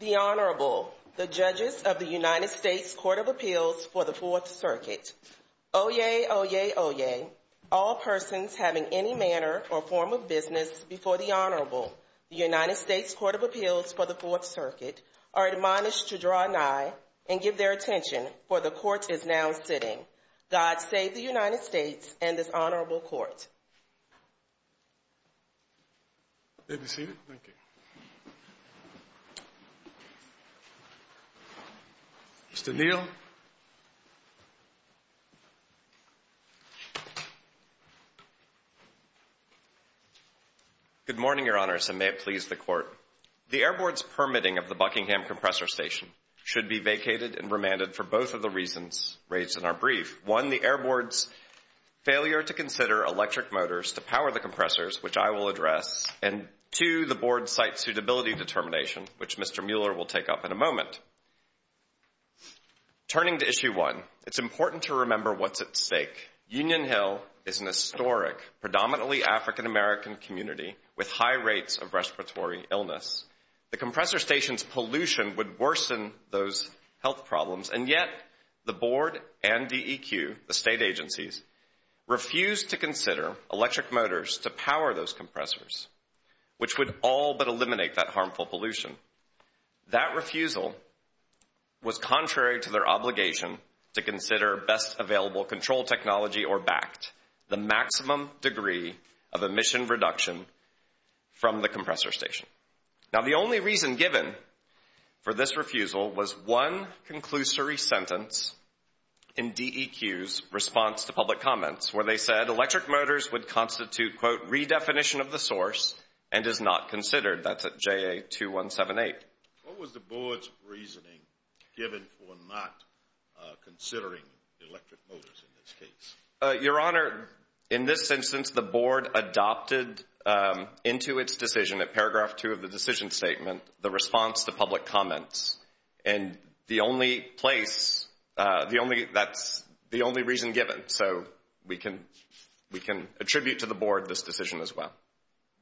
The Honorable, the Judges of the United States Court of Appeals for the Fourth Circuit. Oyez, oyez, oyez, all persons having any manner or form of business before the Honorable, the United States Court of Appeals for the Fourth Circuit, are admonished to draw nigh and give their attention, for the Court is now sitting. God save the United States and this Honorable Court. You may be seated. Mr. Neal. Good morning, Your Honors, and may it please the Court. The Air Board's permitting of the Buckingham Compressor Station should be vacated and remanded for both of the reasons raised in our brief. One, the Air Board's failure to consider electric motors to power the compressors, which I will address, and two, the Board's site suitability determination, which Mr. Mueller will take up in a moment. Turning to Issue 1, it's important to remember what's at stake. Union Hill is an historic, predominantly African-American community with high rates of respiratory illness. The compressor station's pollution would worsen those health problems, and yet the Board and DEQ, the state agencies, refused to consider electric motors to power those compressors, which would all but eliminate that harmful pollution. That refusal was contrary to their obligation to consider best-available control technology or BACT, the maximum degree of emission reduction from the compressor station. Now, the only reason given for this refusal was one conclusory sentence in DEQ's response to public comments, where they said electric motors would constitute, quote, and is not considered. That's at JA-2178. What was the Board's reasoning given for not considering electric motors in this case? Your Honor, in this instance, the Board adopted into its decision at paragraph 2 of the decision statement the response to public comments, and the only place, that's the only reason given. So we can attribute to the Board this decision as well.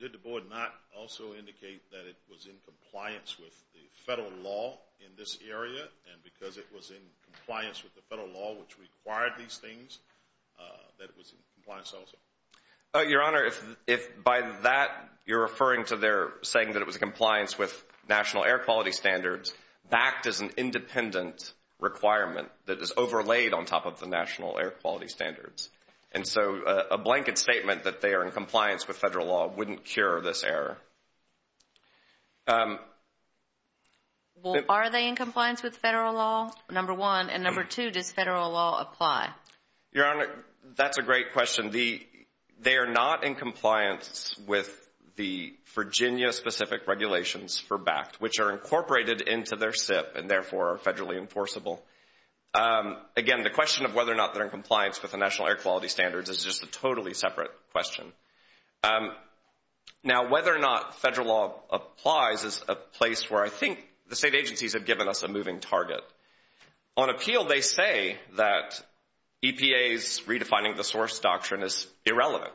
Did the Board not also indicate that it was in compliance with the federal law in this area, and because it was in compliance with the federal law which required these things, that it was in compliance also? Your Honor, if by that you're referring to their saying that it was in compliance with national air quality standards, BACT is an independent requirement that is overlaid on top of the national air quality standards, and so a blanket statement that they are in compliance with federal law wouldn't cure this error. Well, are they in compliance with federal law, number one, and number two, does federal law apply? Your Honor, that's a great question. They are not in compliance with the Virginia-specific regulations for BACT, which are incorporated into their SIP and therefore are federally enforceable. Again, the question of whether or not they're in compliance with the national air quality standards is just a totally separate question. Now, whether or not federal law applies is a place where I think the state agencies have given us a moving target. On appeal, they say that EPA's redefining the source doctrine is irrelevant.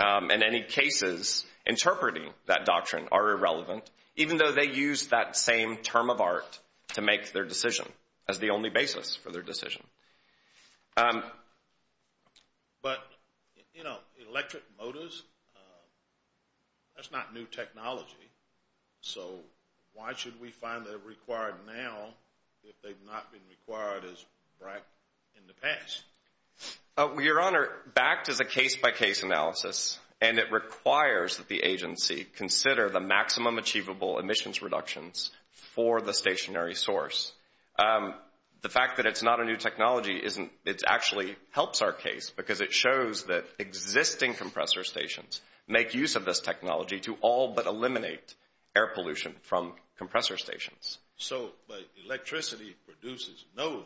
In any cases, interpreting that doctrine are irrelevant, even though they use that same term of art to make their decision as the only basis for their decision. But, you know, electric motors, that's not new technology, so why should we find they're required now if they've not been required as BACT in the past? Your Honor, BACT is a case-by-case analysis, and it requires that the agency consider the maximum achievable emissions reductions for the stationary source. The fact that it's not a new technology actually helps our case because it shows that existing compressor stations make use of this technology to all but eliminate air pollution from compressor stations. So electricity produces no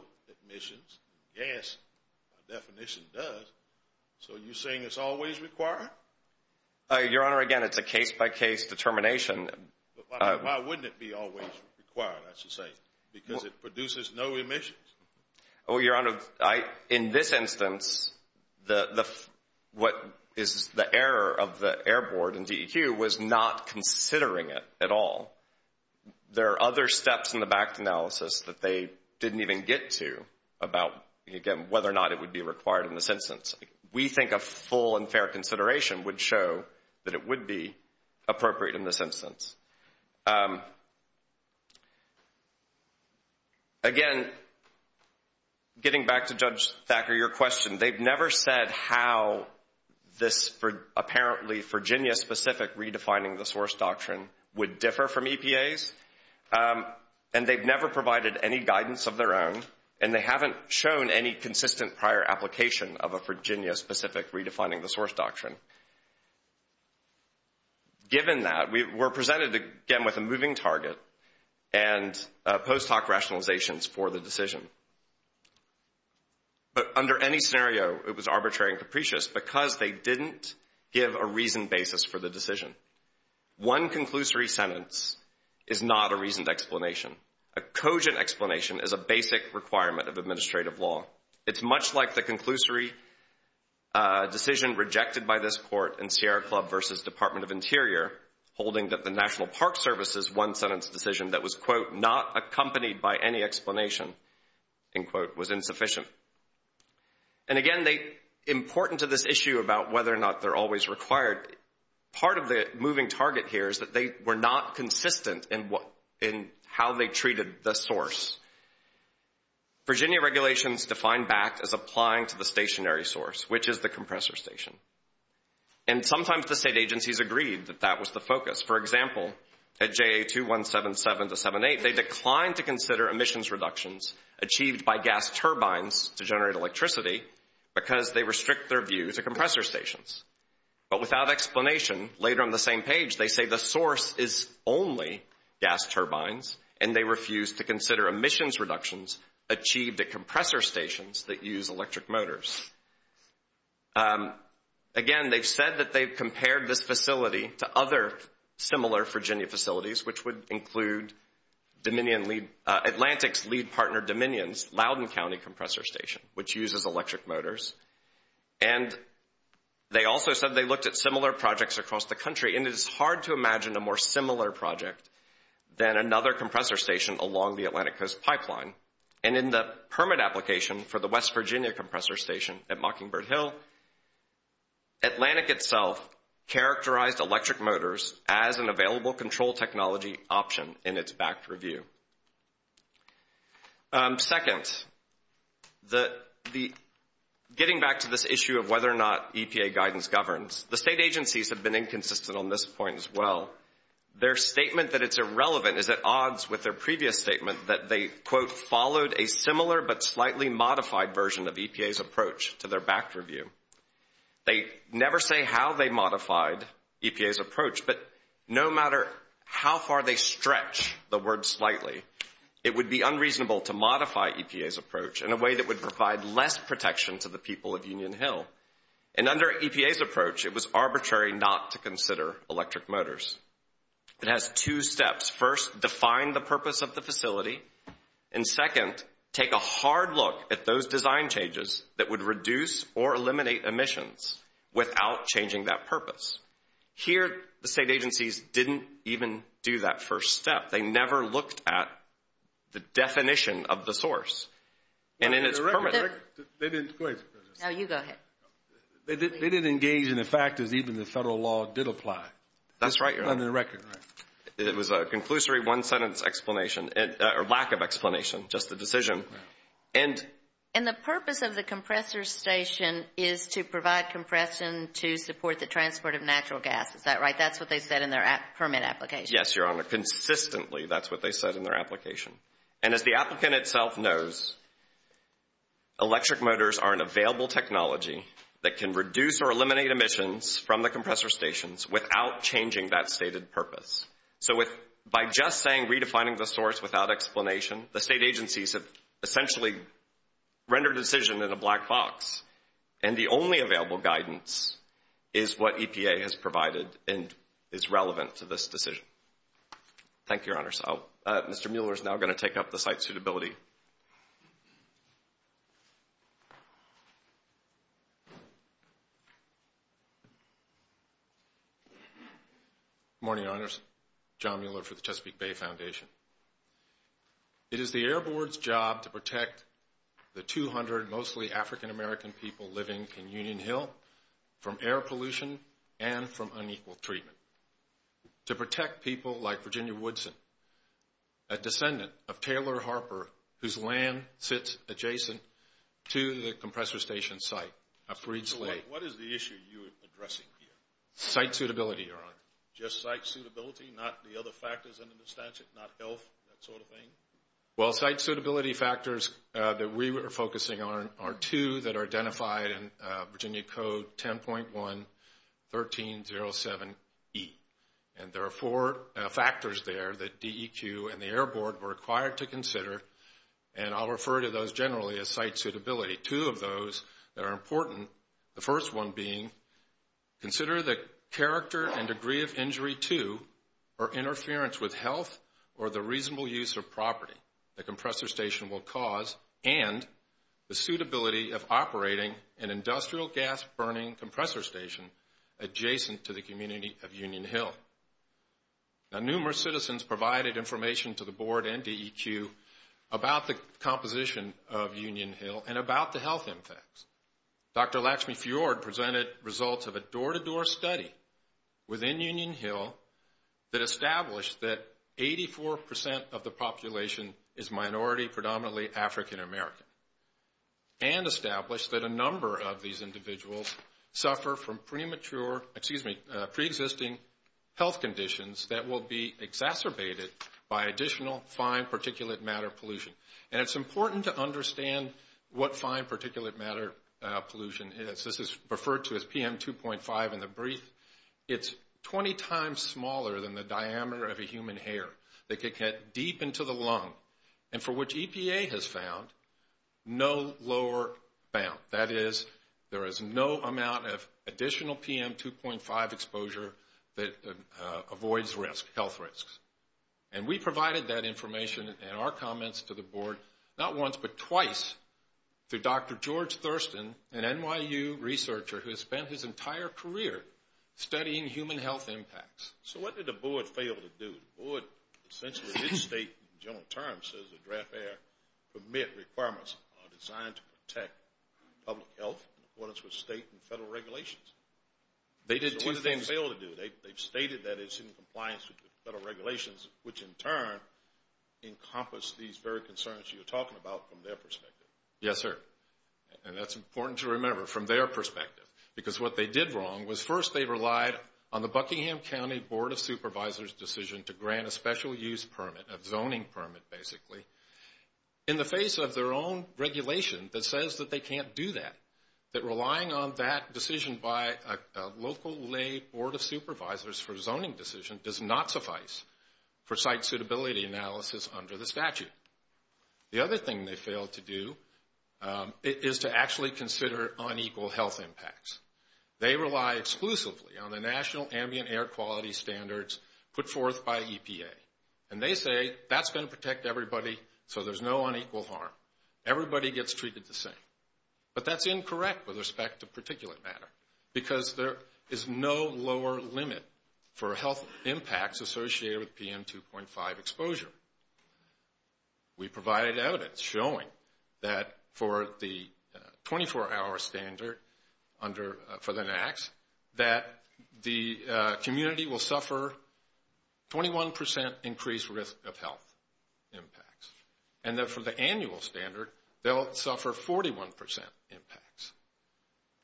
emissions. Gas, by definition, does. So you're saying it's always required? Your Honor, again, it's a case-by-case determination. Why wouldn't it be always required, I should say, because it produces no emissions? Well, Your Honor, in this instance, what is the error of the Air Board and DEQ was not considering it at all. There are other steps in the BACT analysis that they didn't even get to about, again, whether or not it would be required in this instance. We think a full and fair consideration would show that it would be appropriate in this instance. Again, getting back to Judge Thacker, your question, they've never said how this apparently Virginia-specific redefining the source doctrine would differ from EPA's, and they've never provided any guidance of their own, and they haven't shown any consistent prior application of a Virginia-specific redefining the source doctrine. Given that, we're presented, again, with a moving target and post hoc rationalizations for the decision. But under any scenario, it was arbitrary and capricious because they didn't give a reasoned basis for the decision. One conclusory sentence is not a reasoned explanation. A cogent explanation is a basic requirement of administrative law. It's much like the conclusory decision rejected by this court in Sierra Club versus Department of Interior, holding that the National Park Service's one sentence decision that was, quote, not accompanied by any explanation, end quote, was insufficient. And again, important to this issue about whether or not they're always required, part of the moving target here is that they were not consistent in how they treated the source. Virginia regulations define BACT as applying to the stationary source, which is the compressor station. And sometimes the state agencies agreed that that was the focus. For example, at JA2177-78, they declined to consider emissions reductions achieved by gas turbines to generate electricity because they restrict their view to compressor stations. But without explanation, later on the same page, they say the source is only gas turbines, and they refused to consider emissions reductions achieved at compressor stations that use electric motors. Again, they've said that they've compared this facility to other similar Virginia facilities, which would include Atlantic's lead partner Dominion's Loudoun County compressor station, which uses electric motors. And they also said they looked at similar projects across the country. And it is hard to imagine a more similar project than another compressor station along the Atlantic Coast pipeline. And in the permit application for the West Virginia compressor station at Mockingbird Hill, Atlantic itself characterized electric motors as an available control technology option in its BACT review. Second, getting back to this issue of whether or not EPA guidance governs, the state agencies have been inconsistent on this point as well. Their statement that it's irrelevant is at odds with their previous statement that they, quote, followed a similar but slightly modified version of EPA's approach to their BACT review. They never say how they modified EPA's approach, but no matter how far they stretch the word slightly, it would be unreasonable to modify EPA's approach in a way that would provide less protection to the people of Union Hill. And under EPA's approach, it was arbitrary not to consider electric motors. It has two steps. First, define the purpose of the facility. And second, take a hard look at those design changes that would reduce or eliminate emissions without changing that purpose. Here, the state agencies didn't even do that first step. They never looked at the definition of the source. No, you go ahead. They didn't engage in the fact that even the federal law did apply. That's right, Your Honor. Under the record. It was a conclusory one-sentence explanation, or lack of explanation, just a decision. And the purpose of the compressor station is to provide compression to support the transport of natural gas. Is that right? That's what they said in their permit application. Yes, Your Honor. Consistently, that's what they said in their application. And as the applicant itself knows, electric motors are an available technology that can reduce or eliminate emissions from the compressor stations without changing that stated purpose. So by just saying redefining the source without explanation, the state agencies have essentially rendered a decision in a black box. And the only available guidance is what EPA has provided and is relevant to this decision. Thank you, Your Honor. Mr. Mueller is now going to take up the site suitability. Good morning, Your Honors. John Mueller for the Chesapeake Bay Foundation. It is the Air Board's job to protect the 200 mostly African-American people living in Union Hill from air pollution and from unequal treatment. To protect people like Virginia Woodson, a descendant of Taylor Harper, whose land sits adjacent to the compressor station site of Freed's Lake. What is the issue you are addressing here? Site suitability, Your Honor. Just site suitability, not the other factors under the statute, not health, that sort of thing? Well, site suitability factors that we were focusing on are two that are identified in Virginia Code 10.1-1307E. And there are four factors there that DEQ and the Air Board were required to consider. And I'll refer to those generally as site suitability. Two of those that are important. The first one being, consider the character and degree of injury to or interference with health or the reasonable use of property the compressor station will cause and the suitability of operating an industrial gas burning compressor station adjacent to the community of Union Hill. Now, numerous citizens provided information to the Board and DEQ about the composition of Union Hill and about the health impacts. Dr. Lakshmi Fiord presented results of a door-to-door study within Union Hill that established that 84 percent of the population is minority, predominantly African American, and established that a number of these individuals suffer from premature, excuse me, pre-existing health conditions that will be exacerbated by additional fine particulate matter pollution. And it's important to understand what fine particulate matter pollution is. This is referred to as PM2.5 in the brief. It's 20 times smaller than the diameter of a human hair that could get deep into the lung and for which EPA has found no lower bound. That is, there is no amount of additional PM2.5 exposure that avoids health risks. And we provided that information and our comments to the Board not once but twice through Dr. George Thurston, an NYU researcher who has spent his entire career studying human health impacts. So what did the Board fail to do? The Board essentially did state in general terms that the draft air permit requirements are designed to protect public health in accordance with state and federal regulations. They did two things. So what did they fail to do? They stated that it's in compliance with the federal regulations, which in turn encompass these very concerns you're talking about from their perspective. Yes, sir. And that's important to remember from their perspective. Because what they did wrong was first they relied on the Buckingham County Board of Supervisors decision to grant a special use permit, a zoning permit basically, in the face of their own regulation that says that they can't do that. That relying on that decision by a local lay Board of Supervisors for zoning decision does not suffice for site suitability analysis under the statute. The other thing they failed to do is to actually consider unequal health impacts. They rely exclusively on the national ambient air quality standards put forth by EPA. And they say that's going to protect everybody so there's no unequal harm. Everybody gets treated the same. But that's incorrect with respect to particulate matter because there is no lower limit for health impacts associated with PM 2.5 exposure. We provided evidence showing that for the 24-hour standard for the NACs that the community will suffer 21% increased risk of health impacts. And that for the annual standard they'll suffer 41% impacts.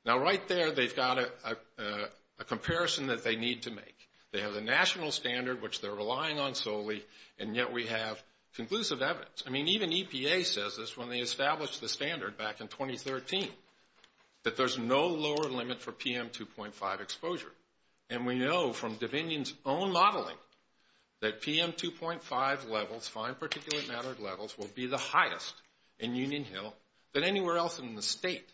Now right there they've got a comparison that they need to make. They have the national standard, which they're relying on solely, and yet we have conclusive evidence. I mean, even EPA says this when they established the standard back in 2013, that there's no lower limit for PM 2.5 exposure. And we know from Divinion's own modeling that PM 2.5 levels, fine particulate matter levels, will be the highest in Union Hill than anywhere else in the state.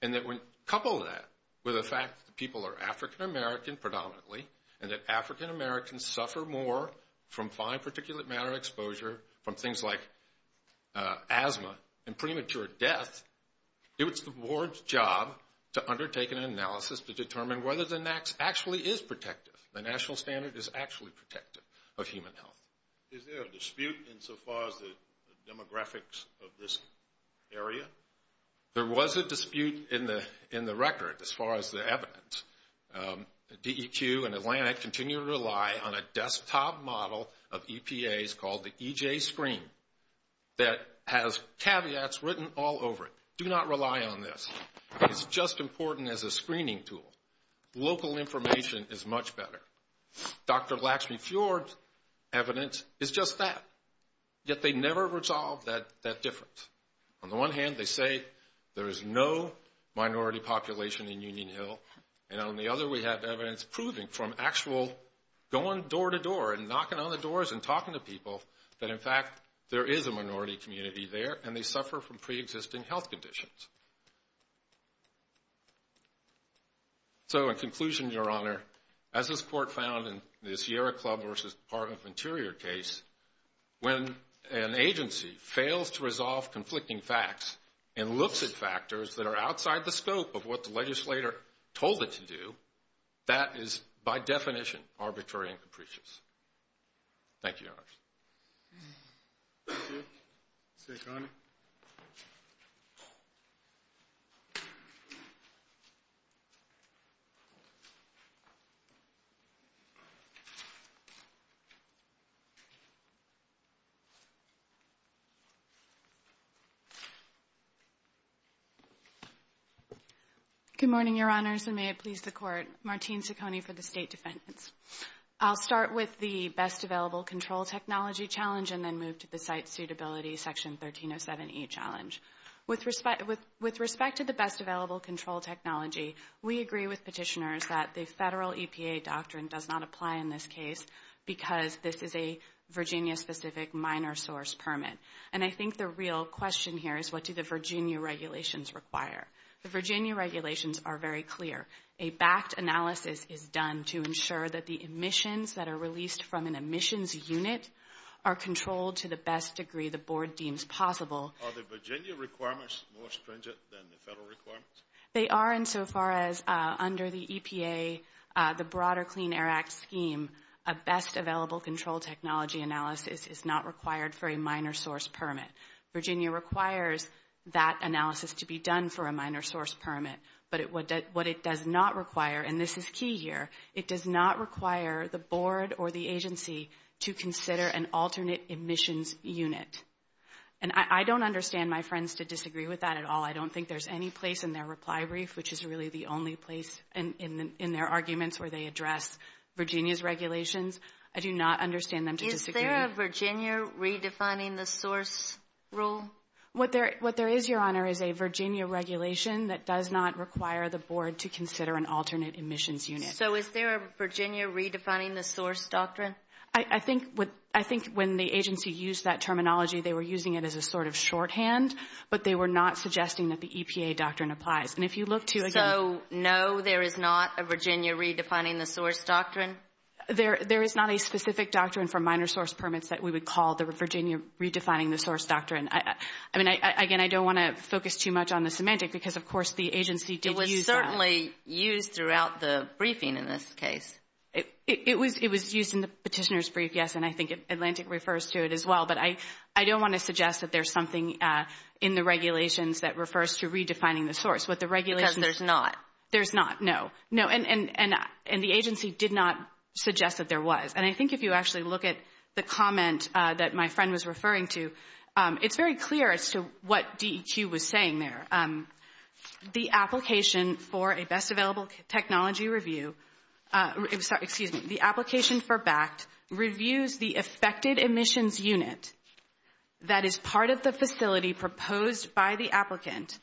And that when coupled with that, with the fact that people are African American predominantly, and that African Americans suffer more from fine particulate matter exposure from things like asthma and premature death, it's the board's job to undertake an analysis to determine whether the NACs actually is protective. The national standard is actually protective of human health. Is there a dispute insofar as the demographics of this area? There was a dispute in the record as far as the evidence. DEQ and Atlantic continue to rely on a desktop model of EPAs called the EJ screen that has caveats written all over it. Do not rely on this. It's just important as a screening tool. Local information is much better. Dr. Laxmey-Fjord's evidence is just that, yet they never resolve that difference. On the one hand, they say there is no minority population in Union Hill, and on the other we have evidence proving from actual going door to door and knocking on the doors and talking to people that in fact there is a minority community there and they suffer from preexisting health conditions. So in conclusion, Your Honor, as this Court found in the Sierra Club v. Department of Interior case, when an agency fails to resolve conflicting facts and looks at factors that are outside the scope of what the legislator told it to do, that is by definition arbitrary and capricious. Thank you, Your Honors. Thank you. Saccone. Good morning, Your Honors, and may it please the Court. Martine Saccone for the State Defendants. I'll start with the Best Available Control Technology Challenge and then move to the Site Suitability Section 1307E Challenge. With respect to the Best Available Control Technology, we agree with petitioners that the federal EPA doctrine does not apply in this case because this is a Virginia-specific minor source permit. And I think the real question here is what do the Virginia regulations require? The Virginia regulations are very clear. A backed analysis is done to ensure that the emissions that are released from an emissions unit are controlled to the best degree the Board deems possible. Are the Virginia requirements more stringent than the federal requirements? They are insofar as under the EPA, the broader Clean Air Act scheme, a Best Available Control Technology analysis is not required for a minor source permit. Virginia requires that analysis to be done for a minor source permit. But what it does not require, and this is key here, it does not require the Board or the agency to consider an alternate emissions unit. And I don't understand my friends to disagree with that at all. I don't think there's any place in their reply brief, which is really the only place in their arguments where they address Virginia's regulations. I do not understand them to disagree. Is there a Virginia redefining the source rule? What there is, Your Honor, is a Virginia regulation that does not require the Board to consider an alternate emissions unit. So is there a Virginia redefining the source doctrine? I think when the agency used that terminology, they were using it as a sort of shorthand, but they were not suggesting that the EPA doctrine applies. So no, there is not a Virginia redefining the source doctrine? There is not a specific doctrine for minor source permits that we would call the Virginia redefining the source doctrine. I mean, again, I don't want to focus too much on the semantic because, of course, the agency did use that. It was certainly used throughout the briefing in this case. It was used in the petitioner's brief, yes, and I think Atlantic refers to it as well. But I don't want to suggest that there's something in the regulations that refers to redefining the source. Because there's not. There's not, no. And the agency did not suggest that there was. And I think if you actually look at the comment that my friend was referring to, it's very clear as to what DEQ was saying there. The application for a best available technology review, excuse me, the application for BACT reviews the affected emissions unit that is part of the facility proposed by the applicant.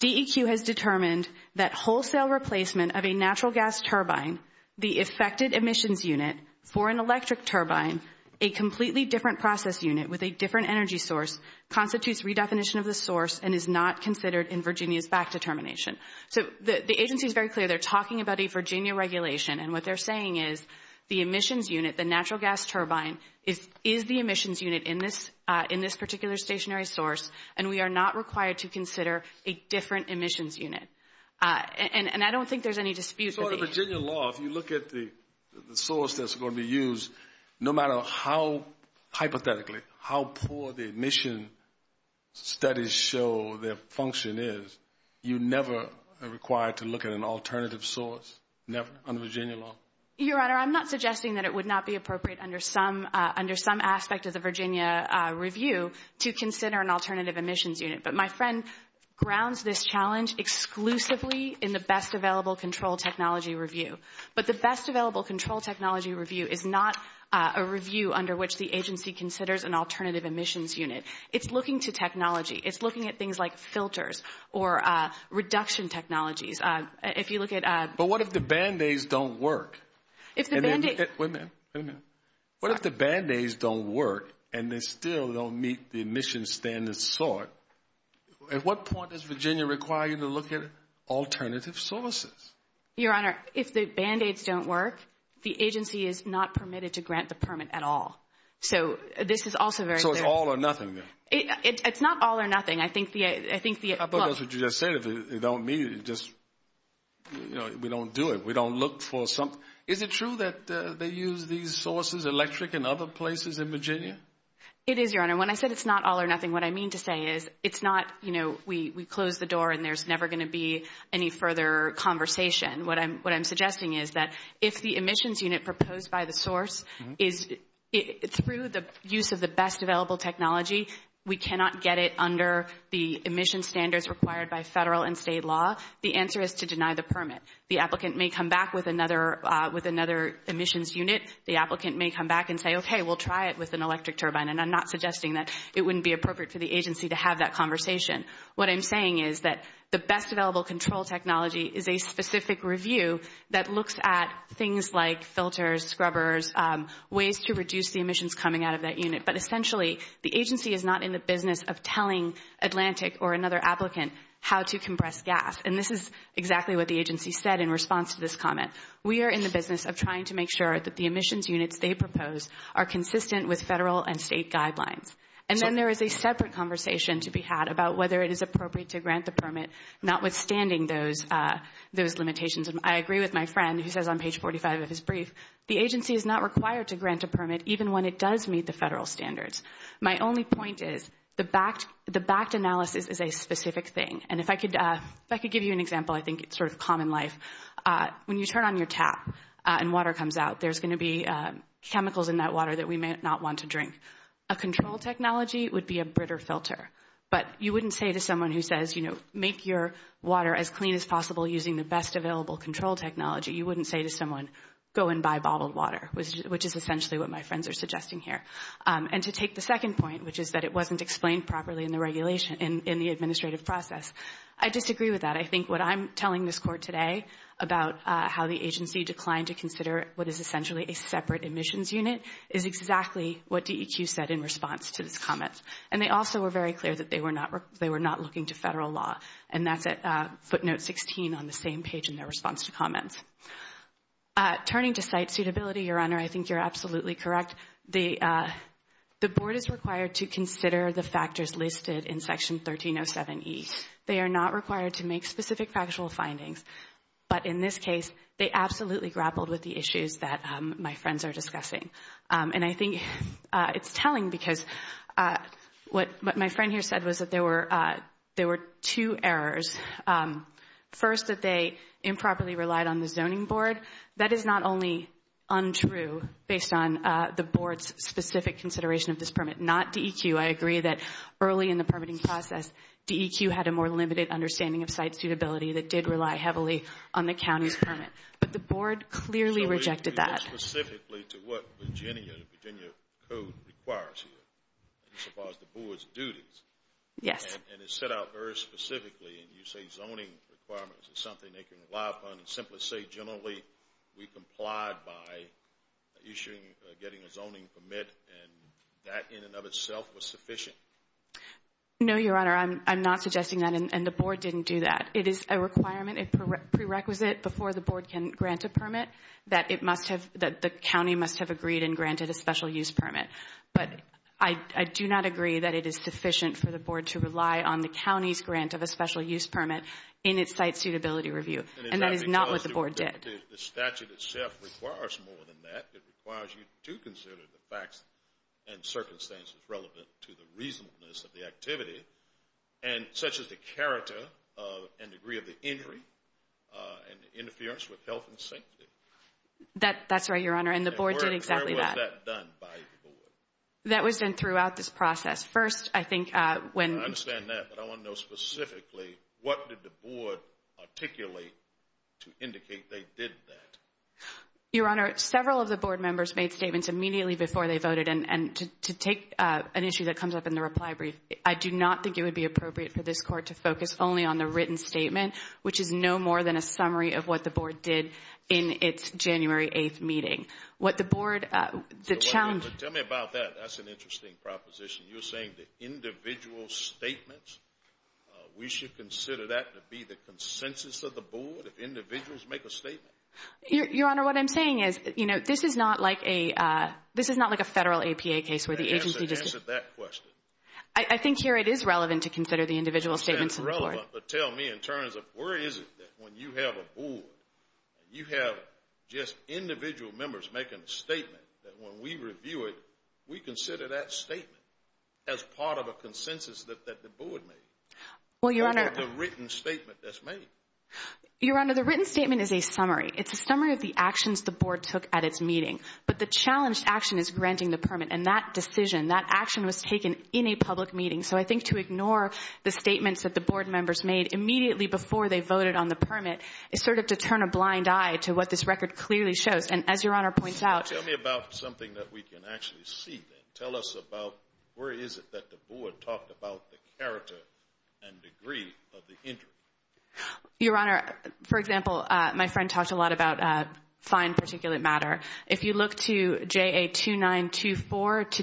DEQ has determined that wholesale replacement of a natural gas turbine, the affected emissions unit for an electric turbine, a completely different process unit with a different energy source, constitutes redefinition of the source and is not considered in Virginia's BACT determination. So the agency is very clear. They're talking about a Virginia regulation. And what they're saying is the emissions unit, the natural gas turbine, is the emissions unit in this particular stationary source and we are not required to consider a different emissions unit. And I don't think there's any dispute. In any sort of Virginia law, if you look at the source that's going to be used, no matter how hypothetically, how poor the emission studies show their function is, you never are required to look at an alternative source, never, under Virginia law. Your Honor, I'm not suggesting that it would not be appropriate under some aspect of the Virginia review to consider an alternative emissions unit. But my friend grounds this challenge exclusively in the best available control technology review. But the best available control technology review is not a review under which the agency considers an alternative emissions unit. It's looking to technology. It's looking at things like filters or reduction technologies. If you look at – But what if the Band-Aids don't work? If the Band-Aids – Wait a minute. Wait a minute. What if the Band-Aids don't work and they still don't meet the emission standards sought? At what point does Virginia require you to look at alternative sources? Your Honor, if the Band-Aids don't work, the agency is not permitted to grant the permit at all. So this is also very clear. So it's all or nothing then? It's not all or nothing. I think the – I suppose what you just said, if they don't meet it, just, you know, we don't do it. We don't look for something. Is it true that they use these sources, electric and other places in Virginia? It is, Your Honor. When I said it's not all or nothing, what I mean to say is it's not, you know, we close the door and there's never going to be any further conversation. What I'm suggesting is that if the emissions unit proposed by the source is – through the use of the best available technology, we cannot get it under the emission standards required by federal and state law, the answer is to deny the permit. The applicant may come back with another emissions unit. The applicant may come back and say, okay, we'll try it with an electric turbine, and I'm not suggesting that it wouldn't be appropriate for the agency to have that conversation. What I'm saying is that the best available control technology is a specific review that looks at things like filters, scrubbers, ways to reduce the emissions coming out of that unit. But essentially, the agency is not in the business of telling Atlantic or another applicant how to compress gas. And this is exactly what the agency said in response to this comment. We are in the business of trying to make sure that the emissions units they propose are consistent with federal and state guidelines. And then there is a separate conversation to be had about whether it is appropriate to grant the permit, notwithstanding those limitations. And I agree with my friend who says on page 45 of his brief, the agency is not required to grant a permit even when it does meet the federal standards. My only point is the backed analysis is a specific thing. And if I could give you an example, I think it's sort of common life. When you turn on your tap and water comes out, there's going to be chemicals in that water that we may not want to drink. A control technology would be a britter filter. But you wouldn't say to someone who says, you know, make your water as clean as possible using the best available control technology. You wouldn't say to someone, go and buy bottled water, which is essentially what my friends are suggesting here. And to take the second point, which is that it wasn't explained properly in the regulation, in the administrative process. I disagree with that. I think what I'm telling this court today about how the agency declined to consider what is essentially a separate admissions unit is exactly what DEQ said in response to this comment. And they also were very clear that they were not looking to federal law. And that's at footnote 16 on the same page in their response to comments. Turning to site suitability, Your Honor, I think you're absolutely correct. The board is required to consider the factors listed in Section 1307E. They are not required to make specific factual findings. But in this case, they absolutely grappled with the issues that my friends are discussing. And I think it's telling because what my friend here said was that there were two errors. First, that they improperly relied on the zoning board. Second, that is not only untrue based on the board's specific consideration of this permit. Not DEQ. I agree that early in the permitting process, DEQ had a more limited understanding of site suitability that did rely heavily on the county's permit. But the board clearly rejected that. Specifically to what Virginia, the Virginia code requires here, as far as the board's duties. Yes. And it's set out very specifically. And you say zoning requirements is something they can rely upon. And simply say generally we complied by issuing, getting a zoning permit. And that in and of itself was sufficient. No, Your Honor. I'm not suggesting that. And the board didn't do that. It is a requirement, a prerequisite before the board can grant a permit that it must have, that the county must have agreed and granted a special use permit. But I do not agree that it is sufficient for the board to rely on the county's grant of a special use permit in its site suitability review. And that is not what the board did. The statute itself requires more than that. It requires you to consider the facts and circumstances relevant to the reasonableness of the activity, such as the character and degree of the injury and interference with health and safety. That's right, Your Honor. And the board did exactly that. How was that done by the board? That was done throughout this process. First, I think when. I understand that. But I want to know specifically what did the board articulate to indicate they did that? Your Honor, several of the board members made statements immediately before they voted. And to take an issue that comes up in the reply brief, I do not think it would be appropriate for this court to focus only on the written statement, But tell me about that. That's an interesting proposition. You're saying the individual statements, we should consider that to be the consensus of the board, if individuals make a statement? Your Honor, what I'm saying is this is not like a federal APA case where the agency just Answer that question. I think here it is relevant to consider the individual statements of the board. It is relevant, but tell me in terms of where is it that when you have a board and you have just individual members making a statement, that when we review it, we consider that statement as part of a consensus that the board made? Or is it the written statement that's made? Your Honor, the written statement is a summary. It's a summary of the actions the board took at its meeting. But the challenged action is granting the permit. And that decision, that action was taken in a public meeting. So I think to ignore the statements that the board members made immediately before they voted on the permit is sort of to turn a blind eye to what this record clearly shows. And as Your Honor points out, Tell me about something that we can actually see then. Tell us about where is it that the board talked about the character and degree of the injury? Your Honor, for example, my friend talked a lot about fine particulate matter. If you look to JA-2924 to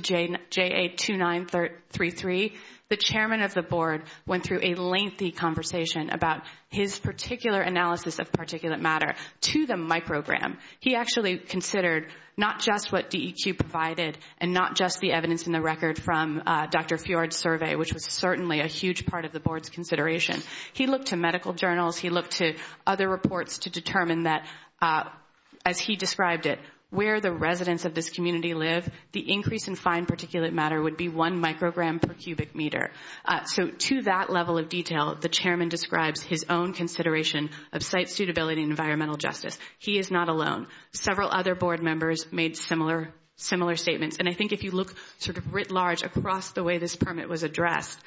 JA-2933, the chairman of the board went through a lengthy conversation about his particular analysis of particulate matter to the microgram. He actually considered not just what DEQ provided and not just the evidence in the record from Dr. Fjord's survey, which was certainly a huge part of the board's consideration. He looked to medical journals. He looked to other reports to determine that, as he described it, where the residents of this community live, the increase in fine particulate matter would be one microgram per cubic meter. So to that level of detail, the chairman describes his own consideration of site suitability and environmental justice. He is not alone. Several other board members made similar statements. And I think if you look sort of writ large across the way this permit was addressed,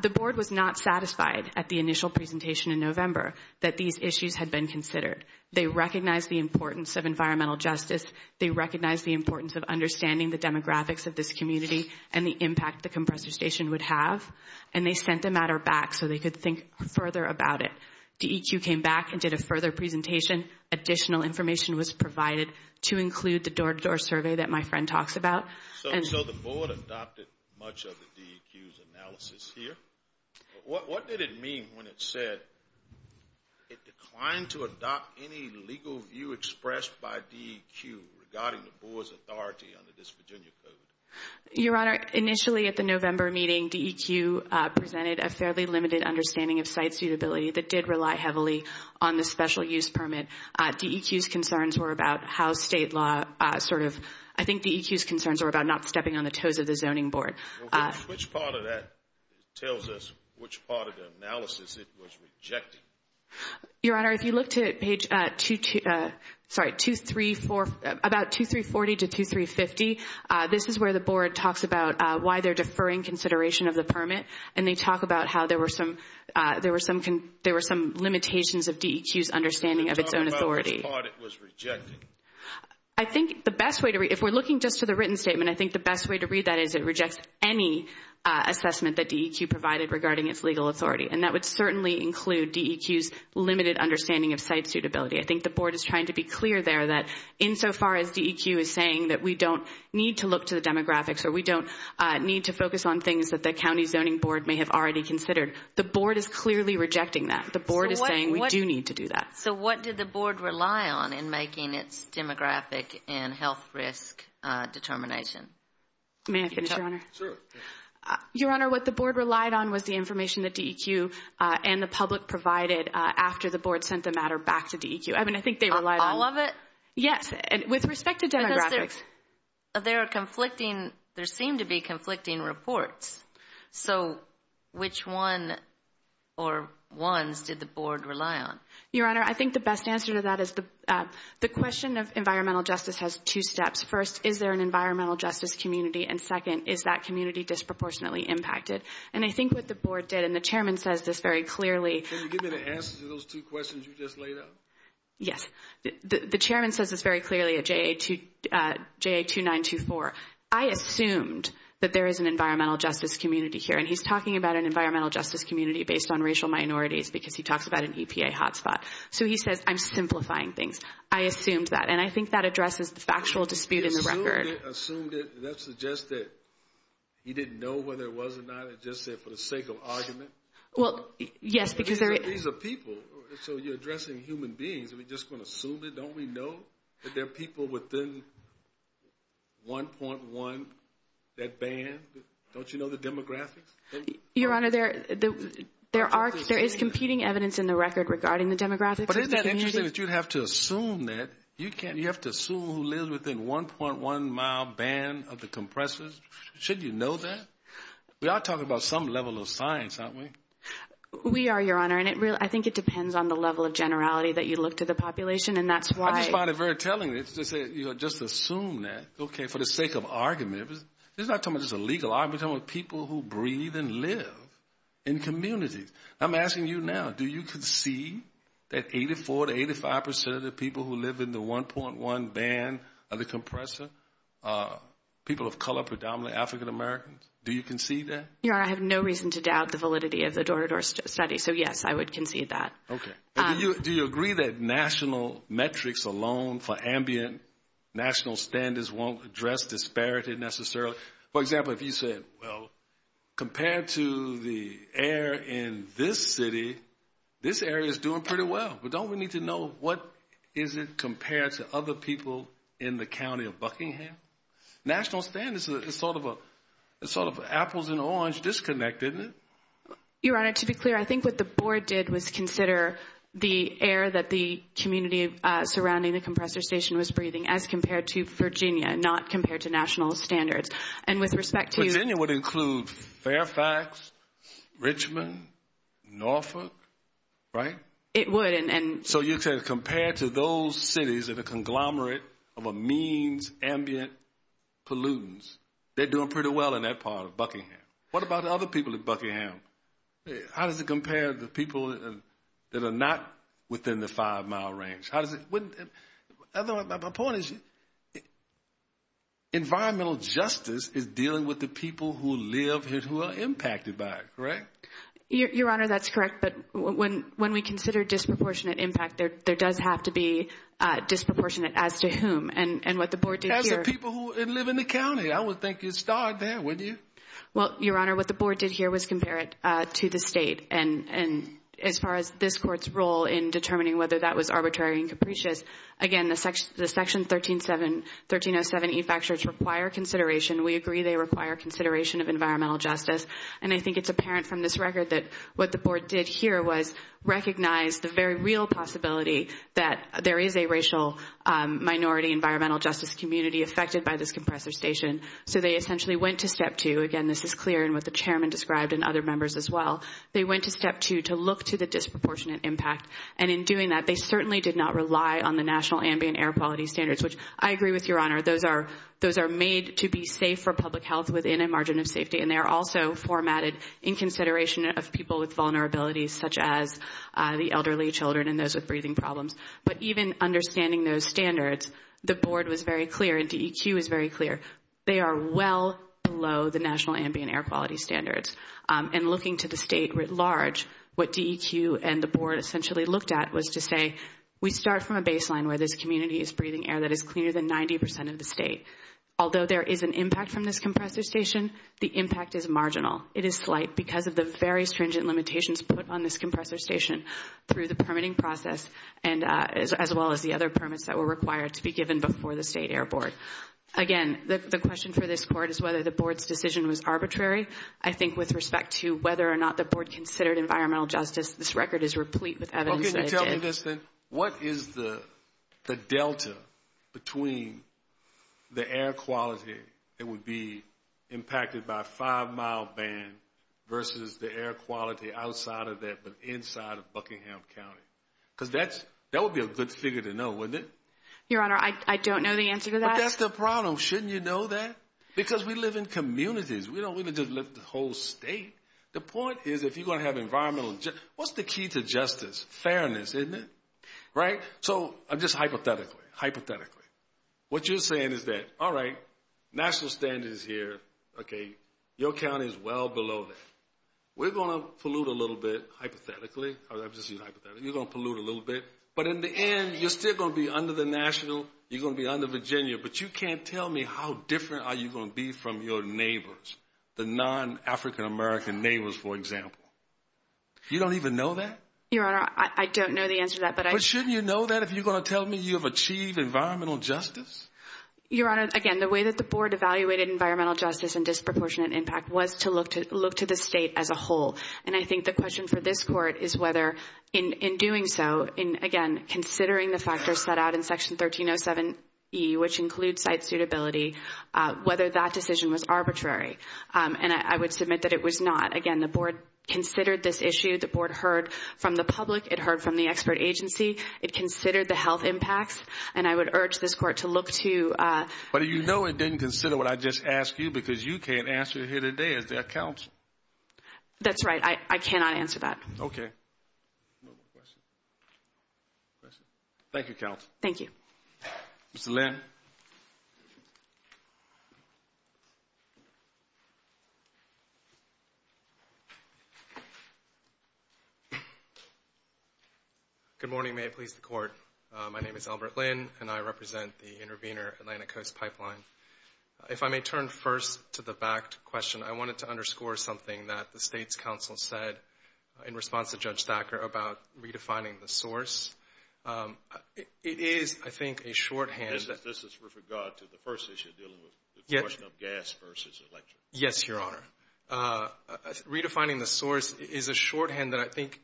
the board was not satisfied at the initial presentation in November that these issues had been considered. They recognized the importance of environmental justice. They recognized the importance of understanding the demographics of this community and the impact the compressor station would have. And they sent the matter back so they could think further about it. DEQ came back and did a further presentation. Additional information was provided to include the door-to-door survey that my friend talks about. So the board adopted much of the DEQ's analysis here. What did it mean when it said it declined to adopt any legal view expressed by DEQ regarding the board's authority under this Virginia Code? Your Honor, initially at the November meeting, DEQ presented a fairly limited understanding of site suitability that did rely heavily on the special use permit. DEQ's concerns were about how state law sort of – I think DEQ's concerns were about not stepping on the toes of the zoning board. Which part of that tells us which part of the analysis it was rejecting? Your Honor, if you look to page – sorry, about 2340 to 2350, this is where the board talks about why they're deferring consideration of the permit. And they talk about how there were some limitations of DEQ's understanding of its own authority. Which part it was rejecting? I think the best way to read – if we're looking just to the written statement, I think the best way to read that is it rejects any assessment that DEQ provided regarding its legal authority. And that would certainly include DEQ's limited understanding of site suitability. I think the board is trying to be clear there that insofar as DEQ is saying that we don't need to look to the demographics or we don't need to focus on things that the county zoning board may have already considered, the board is clearly rejecting that. The board is saying we do need to do that. So what did the board rely on in making its demographic and health risk determination? May I finish, Your Honor? Sure. Your Honor, what the board relied on was the information that DEQ and the public provided after the board sent the matter back to DEQ. I mean, I think they relied on – All of it? Yes, with respect to demographics. Because there are conflicting – there seem to be conflicting reports. So which one or ones did the board rely on? Your Honor, I think the best answer to that is the question of environmental justice has two steps. First, is there an environmental justice community? And second, is that community disproportionately impacted? And I think what the board did, and the chairman says this very clearly – Can you give me the answers to those two questions you just laid out? Yes. The chairman says this very clearly at JA-2924. I assumed that there is an environmental justice community here. And he's talking about an environmental justice community based on racial minorities because he talks about an EPA hotspot. So he says, I'm simplifying things. I assumed that. And I think that addresses the factual dispute in the record. You assumed it, and that suggests that he didn't know whether it was or not. It just said for the sake of argument. Well, yes, because there – These are people, so you're addressing human beings. Are we just going to assume it? Don't we know that there are people within 1.1 that ban? Don't you know the demographics? Your Honor, there is competing evidence in the record regarding the demographics. But isn't it interesting that you have to assume that. You have to assume who lives within 1.1 mile ban of the compressors. Shouldn't you know that? We are talking about some level of science, aren't we? We are, Your Honor, and I think it depends on the level of generality that you look to the population, and that's why – I just find it very telling that you just assume that, okay, for the sake of argument. This is not talking about just a legal argument. I'm talking about people who breathe and live in communities. I'm asking you now, do you concede that 84% to 85% of the people who live in the 1.1 ban of the compressor are people of color, predominantly African Americans? Do you concede that? Your Honor, I have no reason to doubt the validity of the Dorador study. So, yes, I would concede that. Okay. Do you agree that national metrics alone for ambient national standards won't address disparity necessarily? For example, if you said, well, compared to the air in this city, this area is doing pretty well. But don't we need to know what is it compared to other people in the county of Buckingham? National standards is sort of an apples and oranges disconnect, isn't it? Your Honor, to be clear, I think what the board did was consider the air that the community surrounding the compressor station was breathing as compared to Virginia, not compared to national standards. And with respect to – Virginia would include Fairfax, Richmond, Norfolk, right? It would, and – So you're saying compared to those cities in a conglomerate of a means ambient pollutants, they're doing pretty well in that part of Buckingham. What about other people in Buckingham? How does it compare to people that are not within the five-mile range? How does it – my point is environmental justice is dealing with the people who live here who are impacted by it, correct? Your Honor, that's correct, but when we consider disproportionate impact, there does have to be disproportionate as to whom and what the board did here. As the people who live in the county. I would think you'd start there, wouldn't you? Well, Your Honor, what the board did here was compare it to the state. And as far as this court's role in determining whether that was arbitrary and capricious, again, the section 1307E factors require consideration. We agree they require consideration of environmental justice. And I think it's apparent from this record that what the board did here was recognize the very real possibility that there is a racial minority environmental justice community affected by this compressor station. So they essentially went to step two. Again, this is clear in what the chairman described and other members as well. They went to step two to look to the disproportionate impact. And in doing that, they certainly did not rely on the national ambient air quality standards, which I agree with Your Honor, those are made to be safe for public health within a margin of safety. And they are also formatted in consideration of people with vulnerabilities, such as the elderly children and those with breathing problems. But even understanding those standards, the board was very clear and DEQ was very clear. They are well below the national ambient air quality standards. And looking to the state writ large, what DEQ and the board essentially looked at was to say, we start from a baseline where this community is breathing air that is cleaner than 90% of the state. Although there is an impact from this compressor station, the impact is marginal. It is slight because of the very stringent limitations put on this compressor station through the permitting process as well as the other permits that were required to be given before the state air board. Again, the question for this court is whether the board's decision was arbitrary. I think with respect to whether or not the board considered environmental justice, this record is replete with evidence that it did. Well, can you tell me this then? What is the delta between the air quality that would be impacted by a five-mile ban versus the air quality outside of that but inside of Buckingham County? Because that would be a good figure to know, wouldn't it? Your Honor, I don't know the answer to that. But that's the problem. Shouldn't you know that? Because we live in communities. We don't live in the whole state. The point is if you're going to have environmental justice, what's the key to justice? Fairness, isn't it? Right? So just hypothetically, hypothetically, what you're saying is that, all right, national standard is here. Okay. Your county is well below that. We're going to pollute a little bit hypothetically. I'm just using hypothetically. You're going to pollute a little bit. But in the end, you're still going to be under the national. You're going to be under Virginia. But you can't tell me how different are you going to be from your neighbors, the non-African American neighbors, for example. You don't even know that? Your Honor, I don't know the answer to that. But shouldn't you know that if you're going to tell me you have achieved environmental justice? Your Honor, again, the way that the board evaluated environmental justice and disproportionate impact was to look to the state as a whole. And I think the question for this court is whether, in doing so, in, again, considering the factors set out in Section 1307E, which includes site suitability, whether that decision was arbitrary. And I would submit that it was not. Again, the board considered this issue. The board heard from the public. It heard from the expert agency. It considered the health impacts. And I would urge this court to look to you. But you know it didn't consider what I just asked you because you can't answer here today as their counsel. That's right. I cannot answer that. Okay. Thank you, counsel. Thank you. Mr. Lin. Good morning. May it please the Court. My name is Albert Lin, and I represent the Intervenor Atlantic Coast Pipeline. If I may turn first to the fact question, I wanted to underscore something that the state's counsel said in response to Judge Thacker about redefining the source. It is, I think, a shorthand. This is with regard to the first issue dealing with the question of gas versus electric. Yes, Your Honor. Redefining the source is a shorthand that I think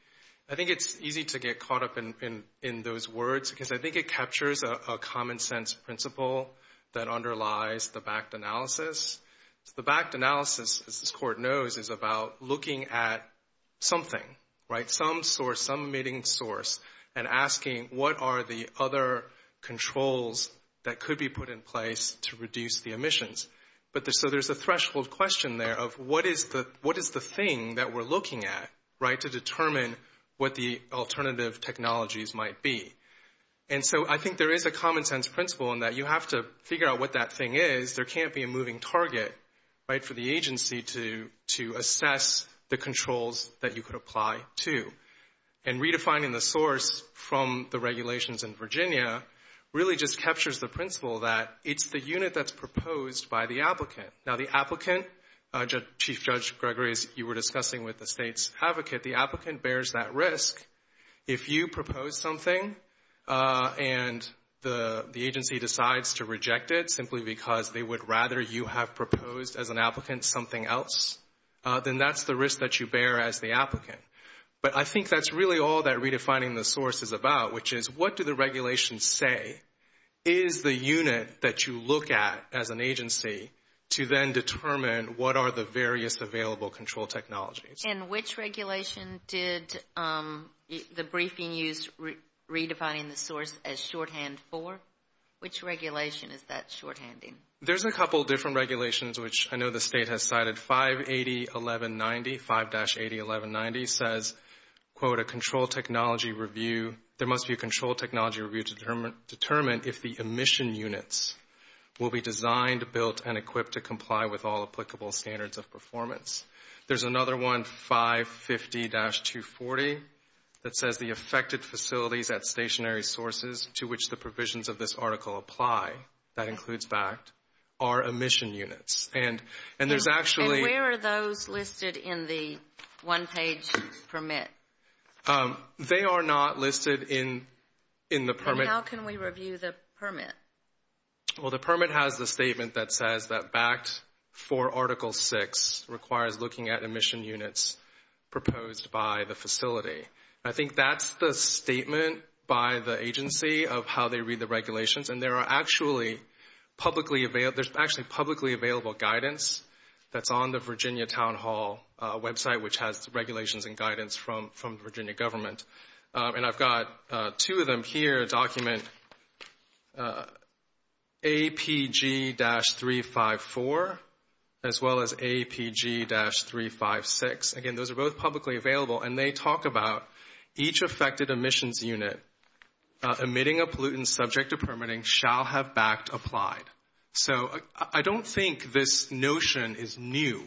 it's easy to get caught up in those words because I think it captures a common sense principle that underlies the backed analysis. The backed analysis, as this Court knows, is about looking at something, right, some source, some emitting source, and asking what are the other controls that could be put in place to reduce the emissions. So there's a threshold question there of what is the thing that we're looking at, right, to determine what the alternative technologies might be. And so I think there is a common sense principle in that you have to figure out what that thing is. There can't be a moving target, right, for the agency to assess the controls that you could apply to. And redefining the source from the regulations in Virginia really just captures the principle that it's the unit that's proposed by the applicant. Now the applicant, Chief Judge Gregory, as you were discussing with the state's advocate, the applicant bears that risk. If you propose something and the agency decides to reject it simply because they would rather you have proposed as an applicant something else, then that's the risk that you bear as the applicant. But I think that's really all that redefining the source is about, which is what do the regulations say is the unit that you look at as an agency to then determine what are the various available control technologies. And which regulation did the briefing use redefining the source as shorthand for? Which regulation is that shorthanding? There's a couple different regulations, which I know the state has cited. 580.1190, 5-80.1190 says, quote, a control technology review. There must be a control technology review to determine if the emission units will be designed, built, and equipped to comply with all applicable standards of performance. There's another one, 550-240, that says the affected facilities at stationary sources to which the provisions of this article apply, that includes BACT, are emission units. And there's actually – And where are those listed in the one-page permit? They are not listed in the permit. And how can we review the permit? Well, the permit has the statement that says that BACT for Article VI requires looking at emission units proposed by the facility. I think that's the statement by the agency of how they read the regulations. And there are actually publicly available – there's actually publicly available guidance that's on the Virginia Town Hall website, which has regulations and guidance from the Virginia government. And I've got two of them here, document APG-354 as well as APG-356. Again, those are both publicly available, and they talk about each affected emissions unit emitting a pollutant subject to permitting shall have BACT applied. So I don't think this notion is new,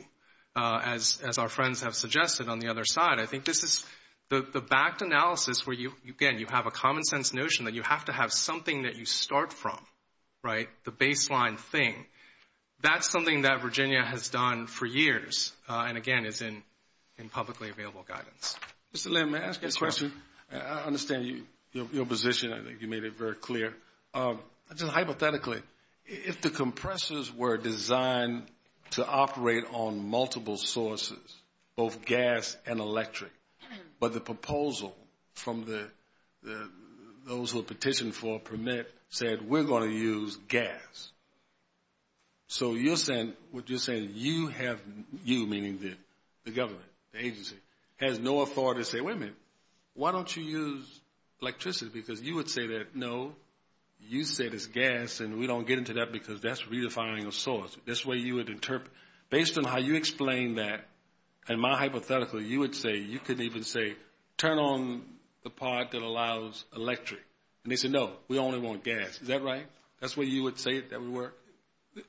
as our friends have suggested on the other side. I think this is the BACT analysis where, again, you have a common-sense notion that you have to have something that you start from, right, the baseline thing. That's something that Virginia has done for years and, again, is in publicly available guidance. Mr. Lim, may I ask you a question? I understand your position. I think you made it very clear. Just hypothetically, if the compressors were designed to operate on multiple sources, both gas and electric, but the proposal from those who have petitioned for a permit said, we're going to use gas. So you're saying you have, you meaning the government, the agency, has no authority to say, wait a minute, why don't you use electricity, because you would say that, no, you said it's gas, and we don't get into that because that's redefining a source. That's the way you would interpret it. Based on how you explain that, in my hypothetical, you would say, you could even say, turn on the part that allows electric, and they say, no, we only want gas. Is that right? That's the way you would say it, that would work?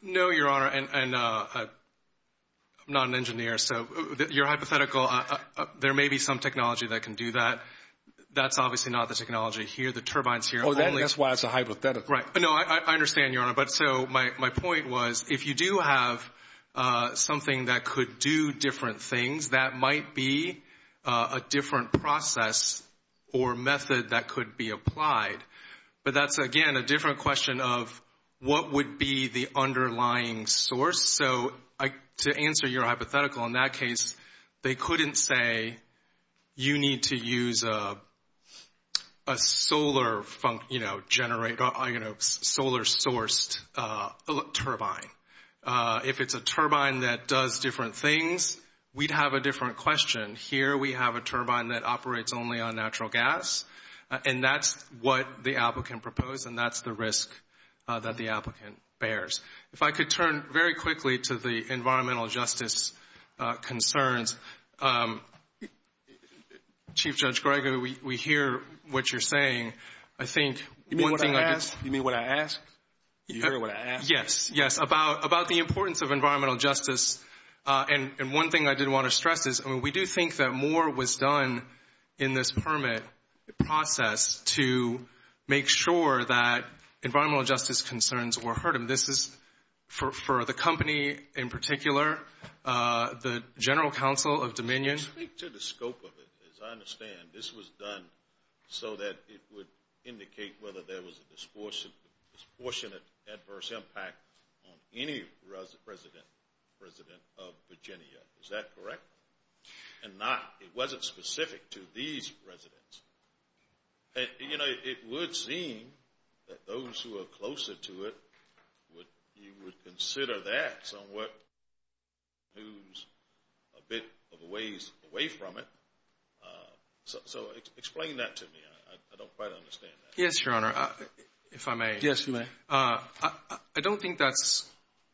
No, Your Honor, and I'm not an engineer, so your hypothetical, there may be some technology that can do that. That's obviously not the technology here. The turbine's here. Right. No, I understand, Your Honor. But so my point was, if you do have something that could do different things, that might be a different process or method that could be applied. But that's, again, a different question of what would be the underlying source. So to answer your hypothetical, in that case, they couldn't say, you need to use a solar source turbine. If it's a turbine that does different things, we'd have a different question. Here we have a turbine that operates only on natural gas, and that's what the applicant proposed, and that's the risk that the applicant bears. If I could turn very quickly to the environmental justice concerns. Chief Judge Gregory, we hear what you're saying. You mean what I ask? You hear what I ask? Yes, yes, about the importance of environmental justice. And one thing I did want to stress is, we do think that more was done in this permit process to make sure that environmental justice concerns were heard. And this is for the company in particular, the General Counsel of Dominion. Speak to the scope of it. As I understand, this was done so that it would indicate whether there was a disproportionate, adverse impact on any resident of Virginia. Is that correct? And not, it wasn't specific to these residents. You know, it would seem that those who are closer to it, you would consider that somewhat a bit of a ways away from it. So explain that to me. I don't quite understand that. Yes, Your Honor. If I may. Yes, you may. I don't think that's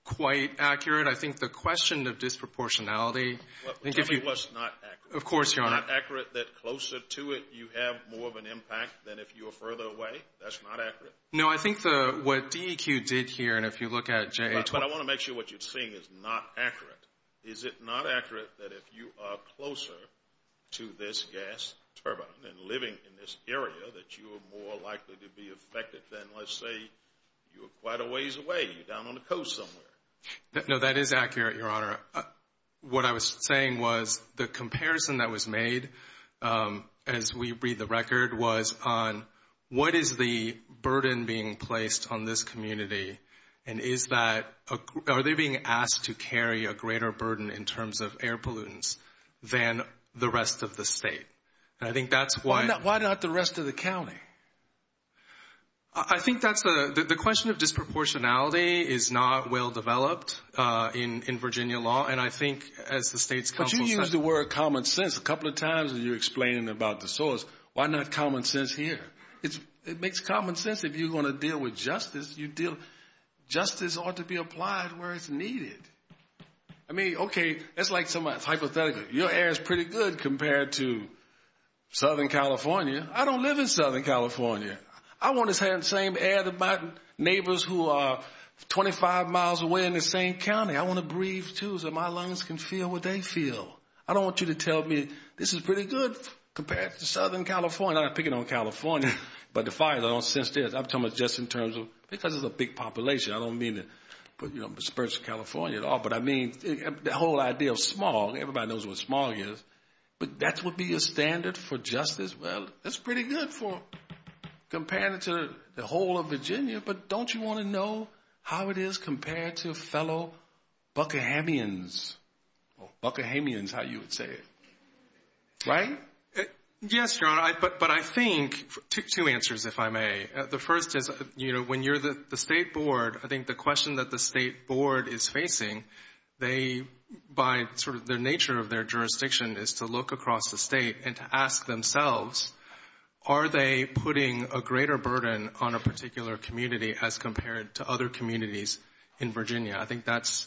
quite accurate. I think the question of disproportionality. Which I think was not accurate. Of course, Your Honor. Is it not accurate that closer to it, you have more of an impact than if you were further away? That's not accurate? No, I think what DEQ did here, and if you look at JA- But I want to make sure what you're saying is not accurate. Is it not accurate that if you are closer to this gas turbine and living in this area, that you are more likely to be affected than, let's say, you were quite a ways away? You're down on the coast somewhere. No, that is accurate, Your Honor. What I was saying was the comparison that was made, as we read the record, was on what is the burden being placed on this community, and are they being asked to carry a greater burden in terms of air pollutants than the rest of the state? And I think that's why- Why not the rest of the county? I think that's a- The question of disproportionality is not well-developed in Virginia law, and I think, as the state's counsel said- But you used the word common sense a couple of times when you were explaining about the source. Why not common sense here? It makes common sense if you're going to deal with justice. Justice ought to be applied where it's needed. I mean, okay, that's hypothetical. Your air is pretty good compared to Southern California. I don't live in Southern California. I want the same air that my neighbors who are 25 miles away in the same county. I want to breathe, too, so my lungs can feel what they feel. I don't want you to tell me this is pretty good compared to Southern California. I'm not picking on California, but the fire, I don't sense this. I'm talking just in terms of-because it's a big population. I don't mean to disperse California at all, but I mean the whole idea of smog. Everybody knows what smog is. But that would be a standard for justice? Well, it's pretty good compared to the whole of Virginia, but don't you want to know how it is compared to fellow Buckahamians? Or Buckahamians, how you would say it. Right? Yes, Your Honor, but I think-two answers, if I may. The first is when you're the state board, I think the question that the state board is facing, by sort of the nature of their jurisdiction is to look across the state and to ask themselves are they putting a greater burden on a particular community as compared to other communities in Virginia? I think that's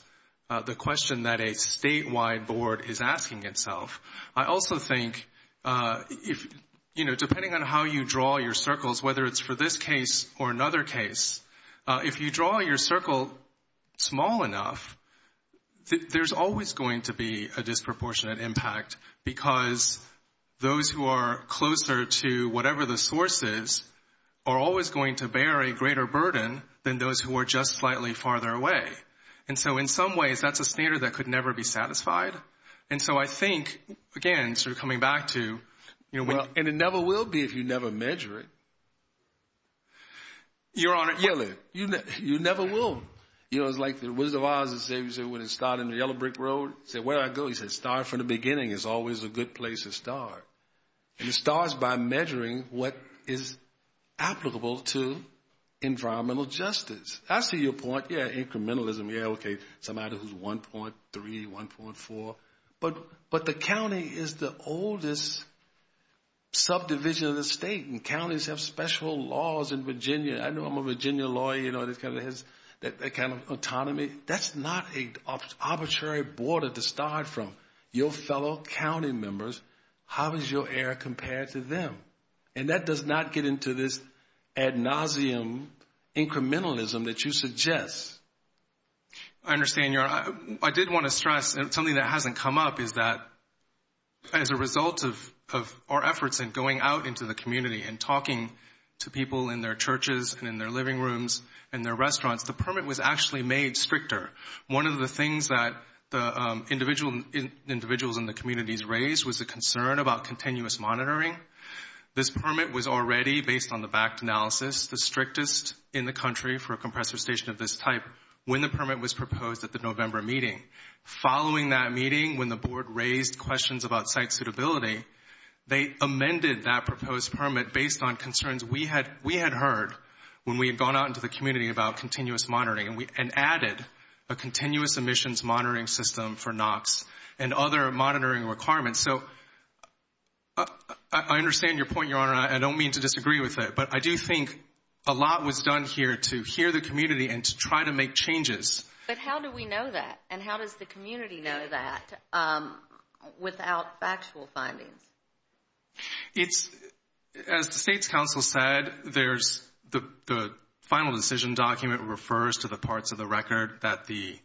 the question that a statewide board is asking itself. I also think, you know, depending on how you draw your circles, whether it's for this case or another case, if you draw your circle small enough, there's always going to be a disproportionate impact because those who are closer to whatever the source is are always going to bear a greater burden than those who are just slightly farther away. And so in some ways that's a standard that could never be satisfied. And so I think, again, sort of coming back to- And it never will be if you never measure it. Your Honor- Yeah, you never will. You know, it's like the Wizard of Oz, he said when he started in the Yellow Brick Road, he said, where do I go? He said, start from the beginning is always a good place to start. And it starts by measuring what is applicable to environmental justice. I see your point, yeah, incrementalism, yeah, okay, somebody who's 1.3, 1.4, but the county is the oldest subdivision of the state, and counties have special laws in Virginia. I know I'm a Virginia lawyer, you know, that kind of autonomy. That's not an arbitrary border to start from. Your fellow county members, how does your error compare to them? And that does not get into this ad nauseum incrementalism that you suggest. I understand, Your Honor. I did want to stress something that hasn't come up is that as a result of our efforts in going out into the community and talking to people in their churches and in their living rooms and their restaurants, the permit was actually made stricter. One of the things that the individuals in the communities raised was a concern about continuous monitoring. This permit was already, based on the backed analysis, the strictest in the country for a compressor station of this type when the permit was proposed at the November meeting. Following that meeting, when the board raised questions about site suitability, they amended that proposed permit based on concerns we had heard when we had gone out into the community about continuous monitoring and added a continuous emissions monitoring system for NOx and other monitoring requirements. So I understand your point, Your Honor, and I don't mean to disagree with it, but I do think a lot was done here to hear the community and to try to make changes. But how do we know that, and how does the community know that without factual findings? As the State's counsel said, the final decision document refers to the parts of the record that the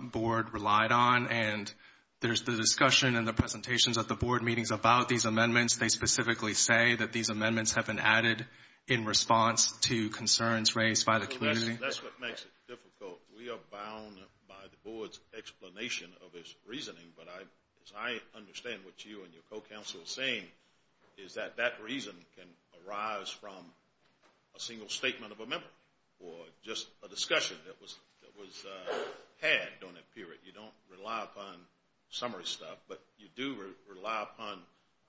board relied on, and there's the discussion in the presentations at the board meetings about these amendments. They specifically say that these amendments have been added in response to concerns raised by the community. That's what makes it difficult. We are bound by the board's explanation of its reasoning, but as I understand what you and your co-counsel are saying, is that that reason can arise from a single statement of amendment or just a discussion that was had during that period. You don't rely upon summary stuff, but you do rely upon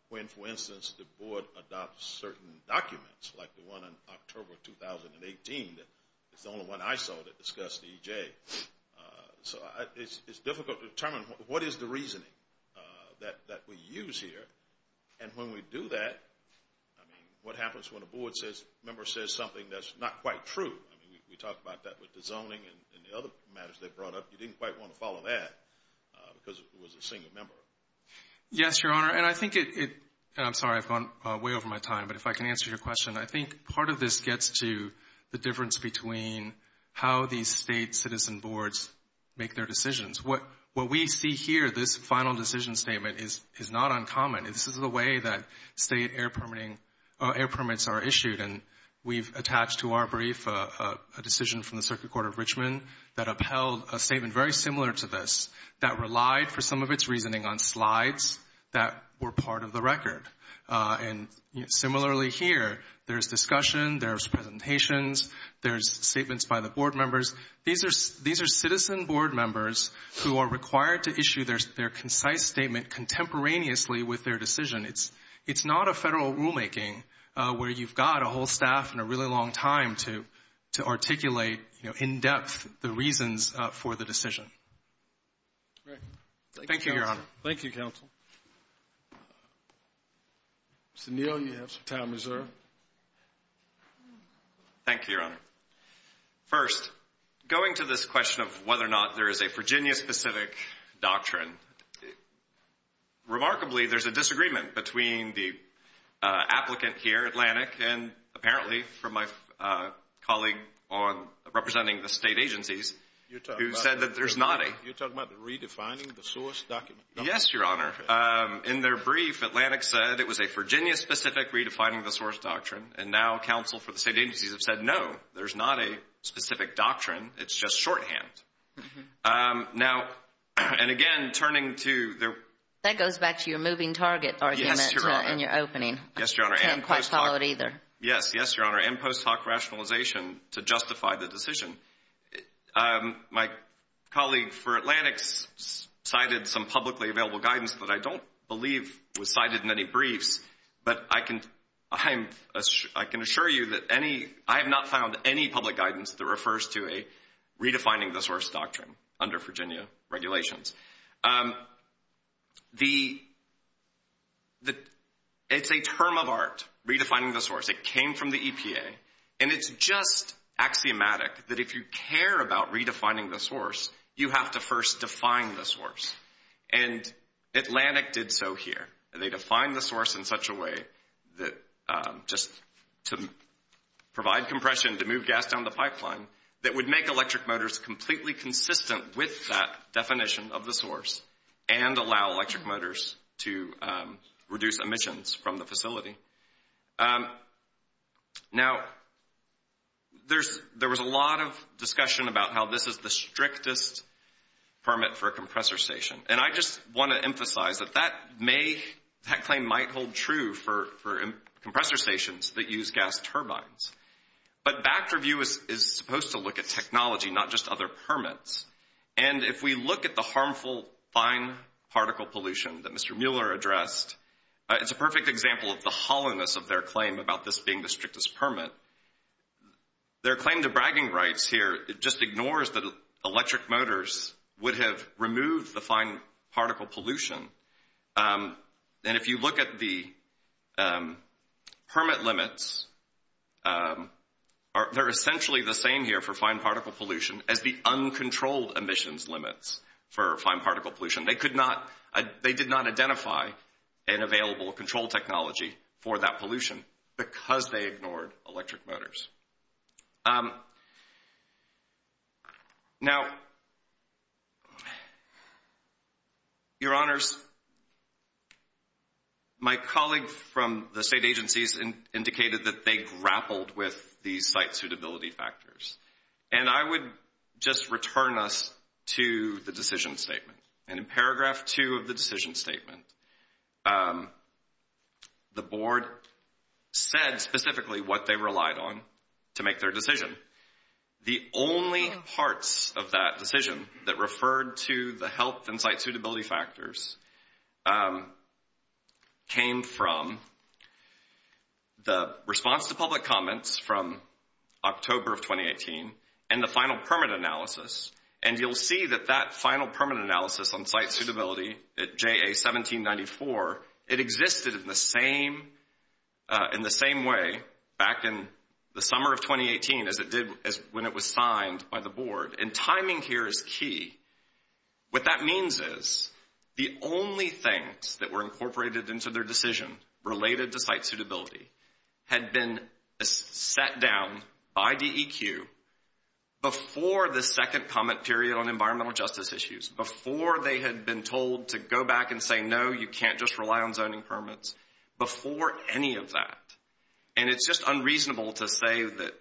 when, for instance, the board adopts certain documents, like the one in October 2018 that is the only one I saw that discussed EJ. So it's difficult to determine what is the reasoning that we use here, and when we do that, I mean, what happens when a board member says something that's not quite true? I mean, we talked about that with the zoning and the other matters they brought up. You didn't quite want to follow that because it was a single member. Yes, Your Honor, and I think it, and I'm sorry, I've gone way over my time, but if I can answer your question, I think part of this gets to the difference between how these state citizen boards make their decisions. What we see here, this final decision statement, is not uncommon. This is the way that state air permits are issued, and we've attached to our brief a decision from the Circuit Court of Richmond that upheld a statement very similar to this, that relied for some of its reasoning on slides that were part of the record. And similarly here, there's discussion, there's presentations, there's statements by the board members. These are citizen board members who are required to issue their concise statement contemporaneously with their decision. It's not a federal rulemaking where you've got a whole staff and a really long time to articulate in depth the reasons for the decision. Thank you, Your Honor. Thank you, counsel. Mr. Neal, you have some time reserved. Thank you, Your Honor. First, going to this question of whether or not there is a Virginia-specific doctrine, remarkably there's a disagreement between the applicant here, Atlantic, and apparently from my colleague representing the state agencies who said that there's not a You're talking about redefining the source document? Yes, Your Honor. In their brief, Atlantic said it was a Virginia-specific redefining the source doctrine, and now counsel for the state agencies have said no, there's not a specific doctrine, it's just shorthand. Now, and again, turning to their That goes back to your moving target argument in your opening. I can't quite follow it either. Yes, Your Honor, and post hoc rationalization to justify the decision. My colleague for Atlantic cited some publicly available guidance that I don't believe was cited in any briefs, but I can assure you that I have not found any public guidance that refers to a redefining the source doctrine under Virginia regulations. It's a term of art, redefining the source. It came from the EPA, and it's just axiomatic that if you care about redefining the source, you have to first define the source. And Atlantic did so here. They defined the source in such a way that just to provide compression, to move gas down the pipeline, that would make electric motors completely consistent with that definition of the source and allow electric motors to reduce emissions from the facility. Now, there was a lot of discussion about how this is the strictest permit for a compressor station, and I just want to emphasize that that claim might hold true for compressor stations that use gas turbines. But back-review is supposed to look at technology, not just other permits. And if we look at the harmful fine particle pollution that Mr. Mueller addressed, it's a perfect example of the hollowness of their claim about this being the strictest permit. Their claim to bragging rights here just ignores that electric motors would have removed the fine particle pollution. And if you look at the permit limits, they're essentially the same here for fine particle pollution as the uncontrolled emissions limits for fine particle pollution. They did not identify an available control technology for that pollution because they ignored electric motors. Now, your honors, my colleague from the state agencies indicated that they grappled with these site suitability factors. And I would just return us to the decision statement. And in paragraph two of the decision statement, the board said specifically what they relied on to make their decision. The only parts of that decision that referred to the health and site suitability factors came from the response to public comments from October of 2018 and the final permit analysis. And you'll see that that final permit analysis on site suitability at JA 1794, it existed in the same way back in the summer of 2018 as it did when it was signed by the board. And timing here is key. What that means is the only things that were incorporated into their decision related to site suitability had been set down by DEQ before the second comment period on environmental justice issues, before they had been told to go back and say, no, you can't just rely on zoning permits before any of that. And it's just unreasonable to say that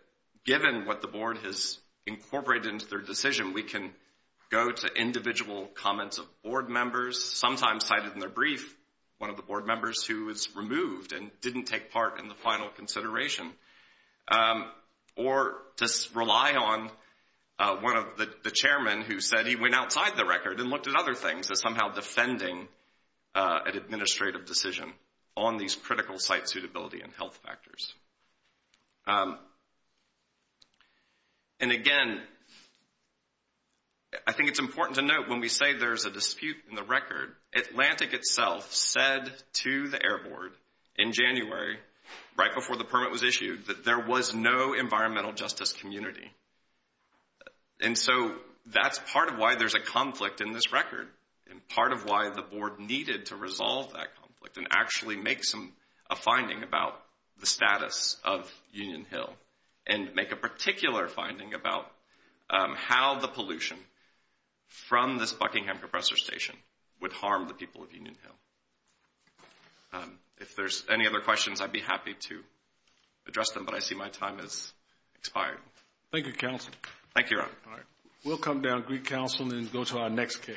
given what the board has incorporated into their decision, we can go to individual comments of board members, sometimes cited in their brief, one of the board members who was removed and didn't take part in the final consideration, or just rely on one of the chairmen who said he went outside the record and looked at other things as somehow defending an administrative decision on these critical site suitability and health factors. And again, I think it's important to note when we say there's a dispute in the record, Atlantic itself said to the Air Board in January, right before the permit was issued, that there was no environmental justice community. And so that's part of why there's a conflict in this record and part of why the board needed to resolve that conflict and actually make a finding about the status of Union Hill and make a particular finding about how the pollution from this Buckingham Compressor Station would harm the people of Union Hill. If there's any other questions, I'd be happy to address them, but I see my time has expired. Thank you, counsel. Thank you, Your Honor. All right. We'll come down to Greek Counsel and go to our next case. �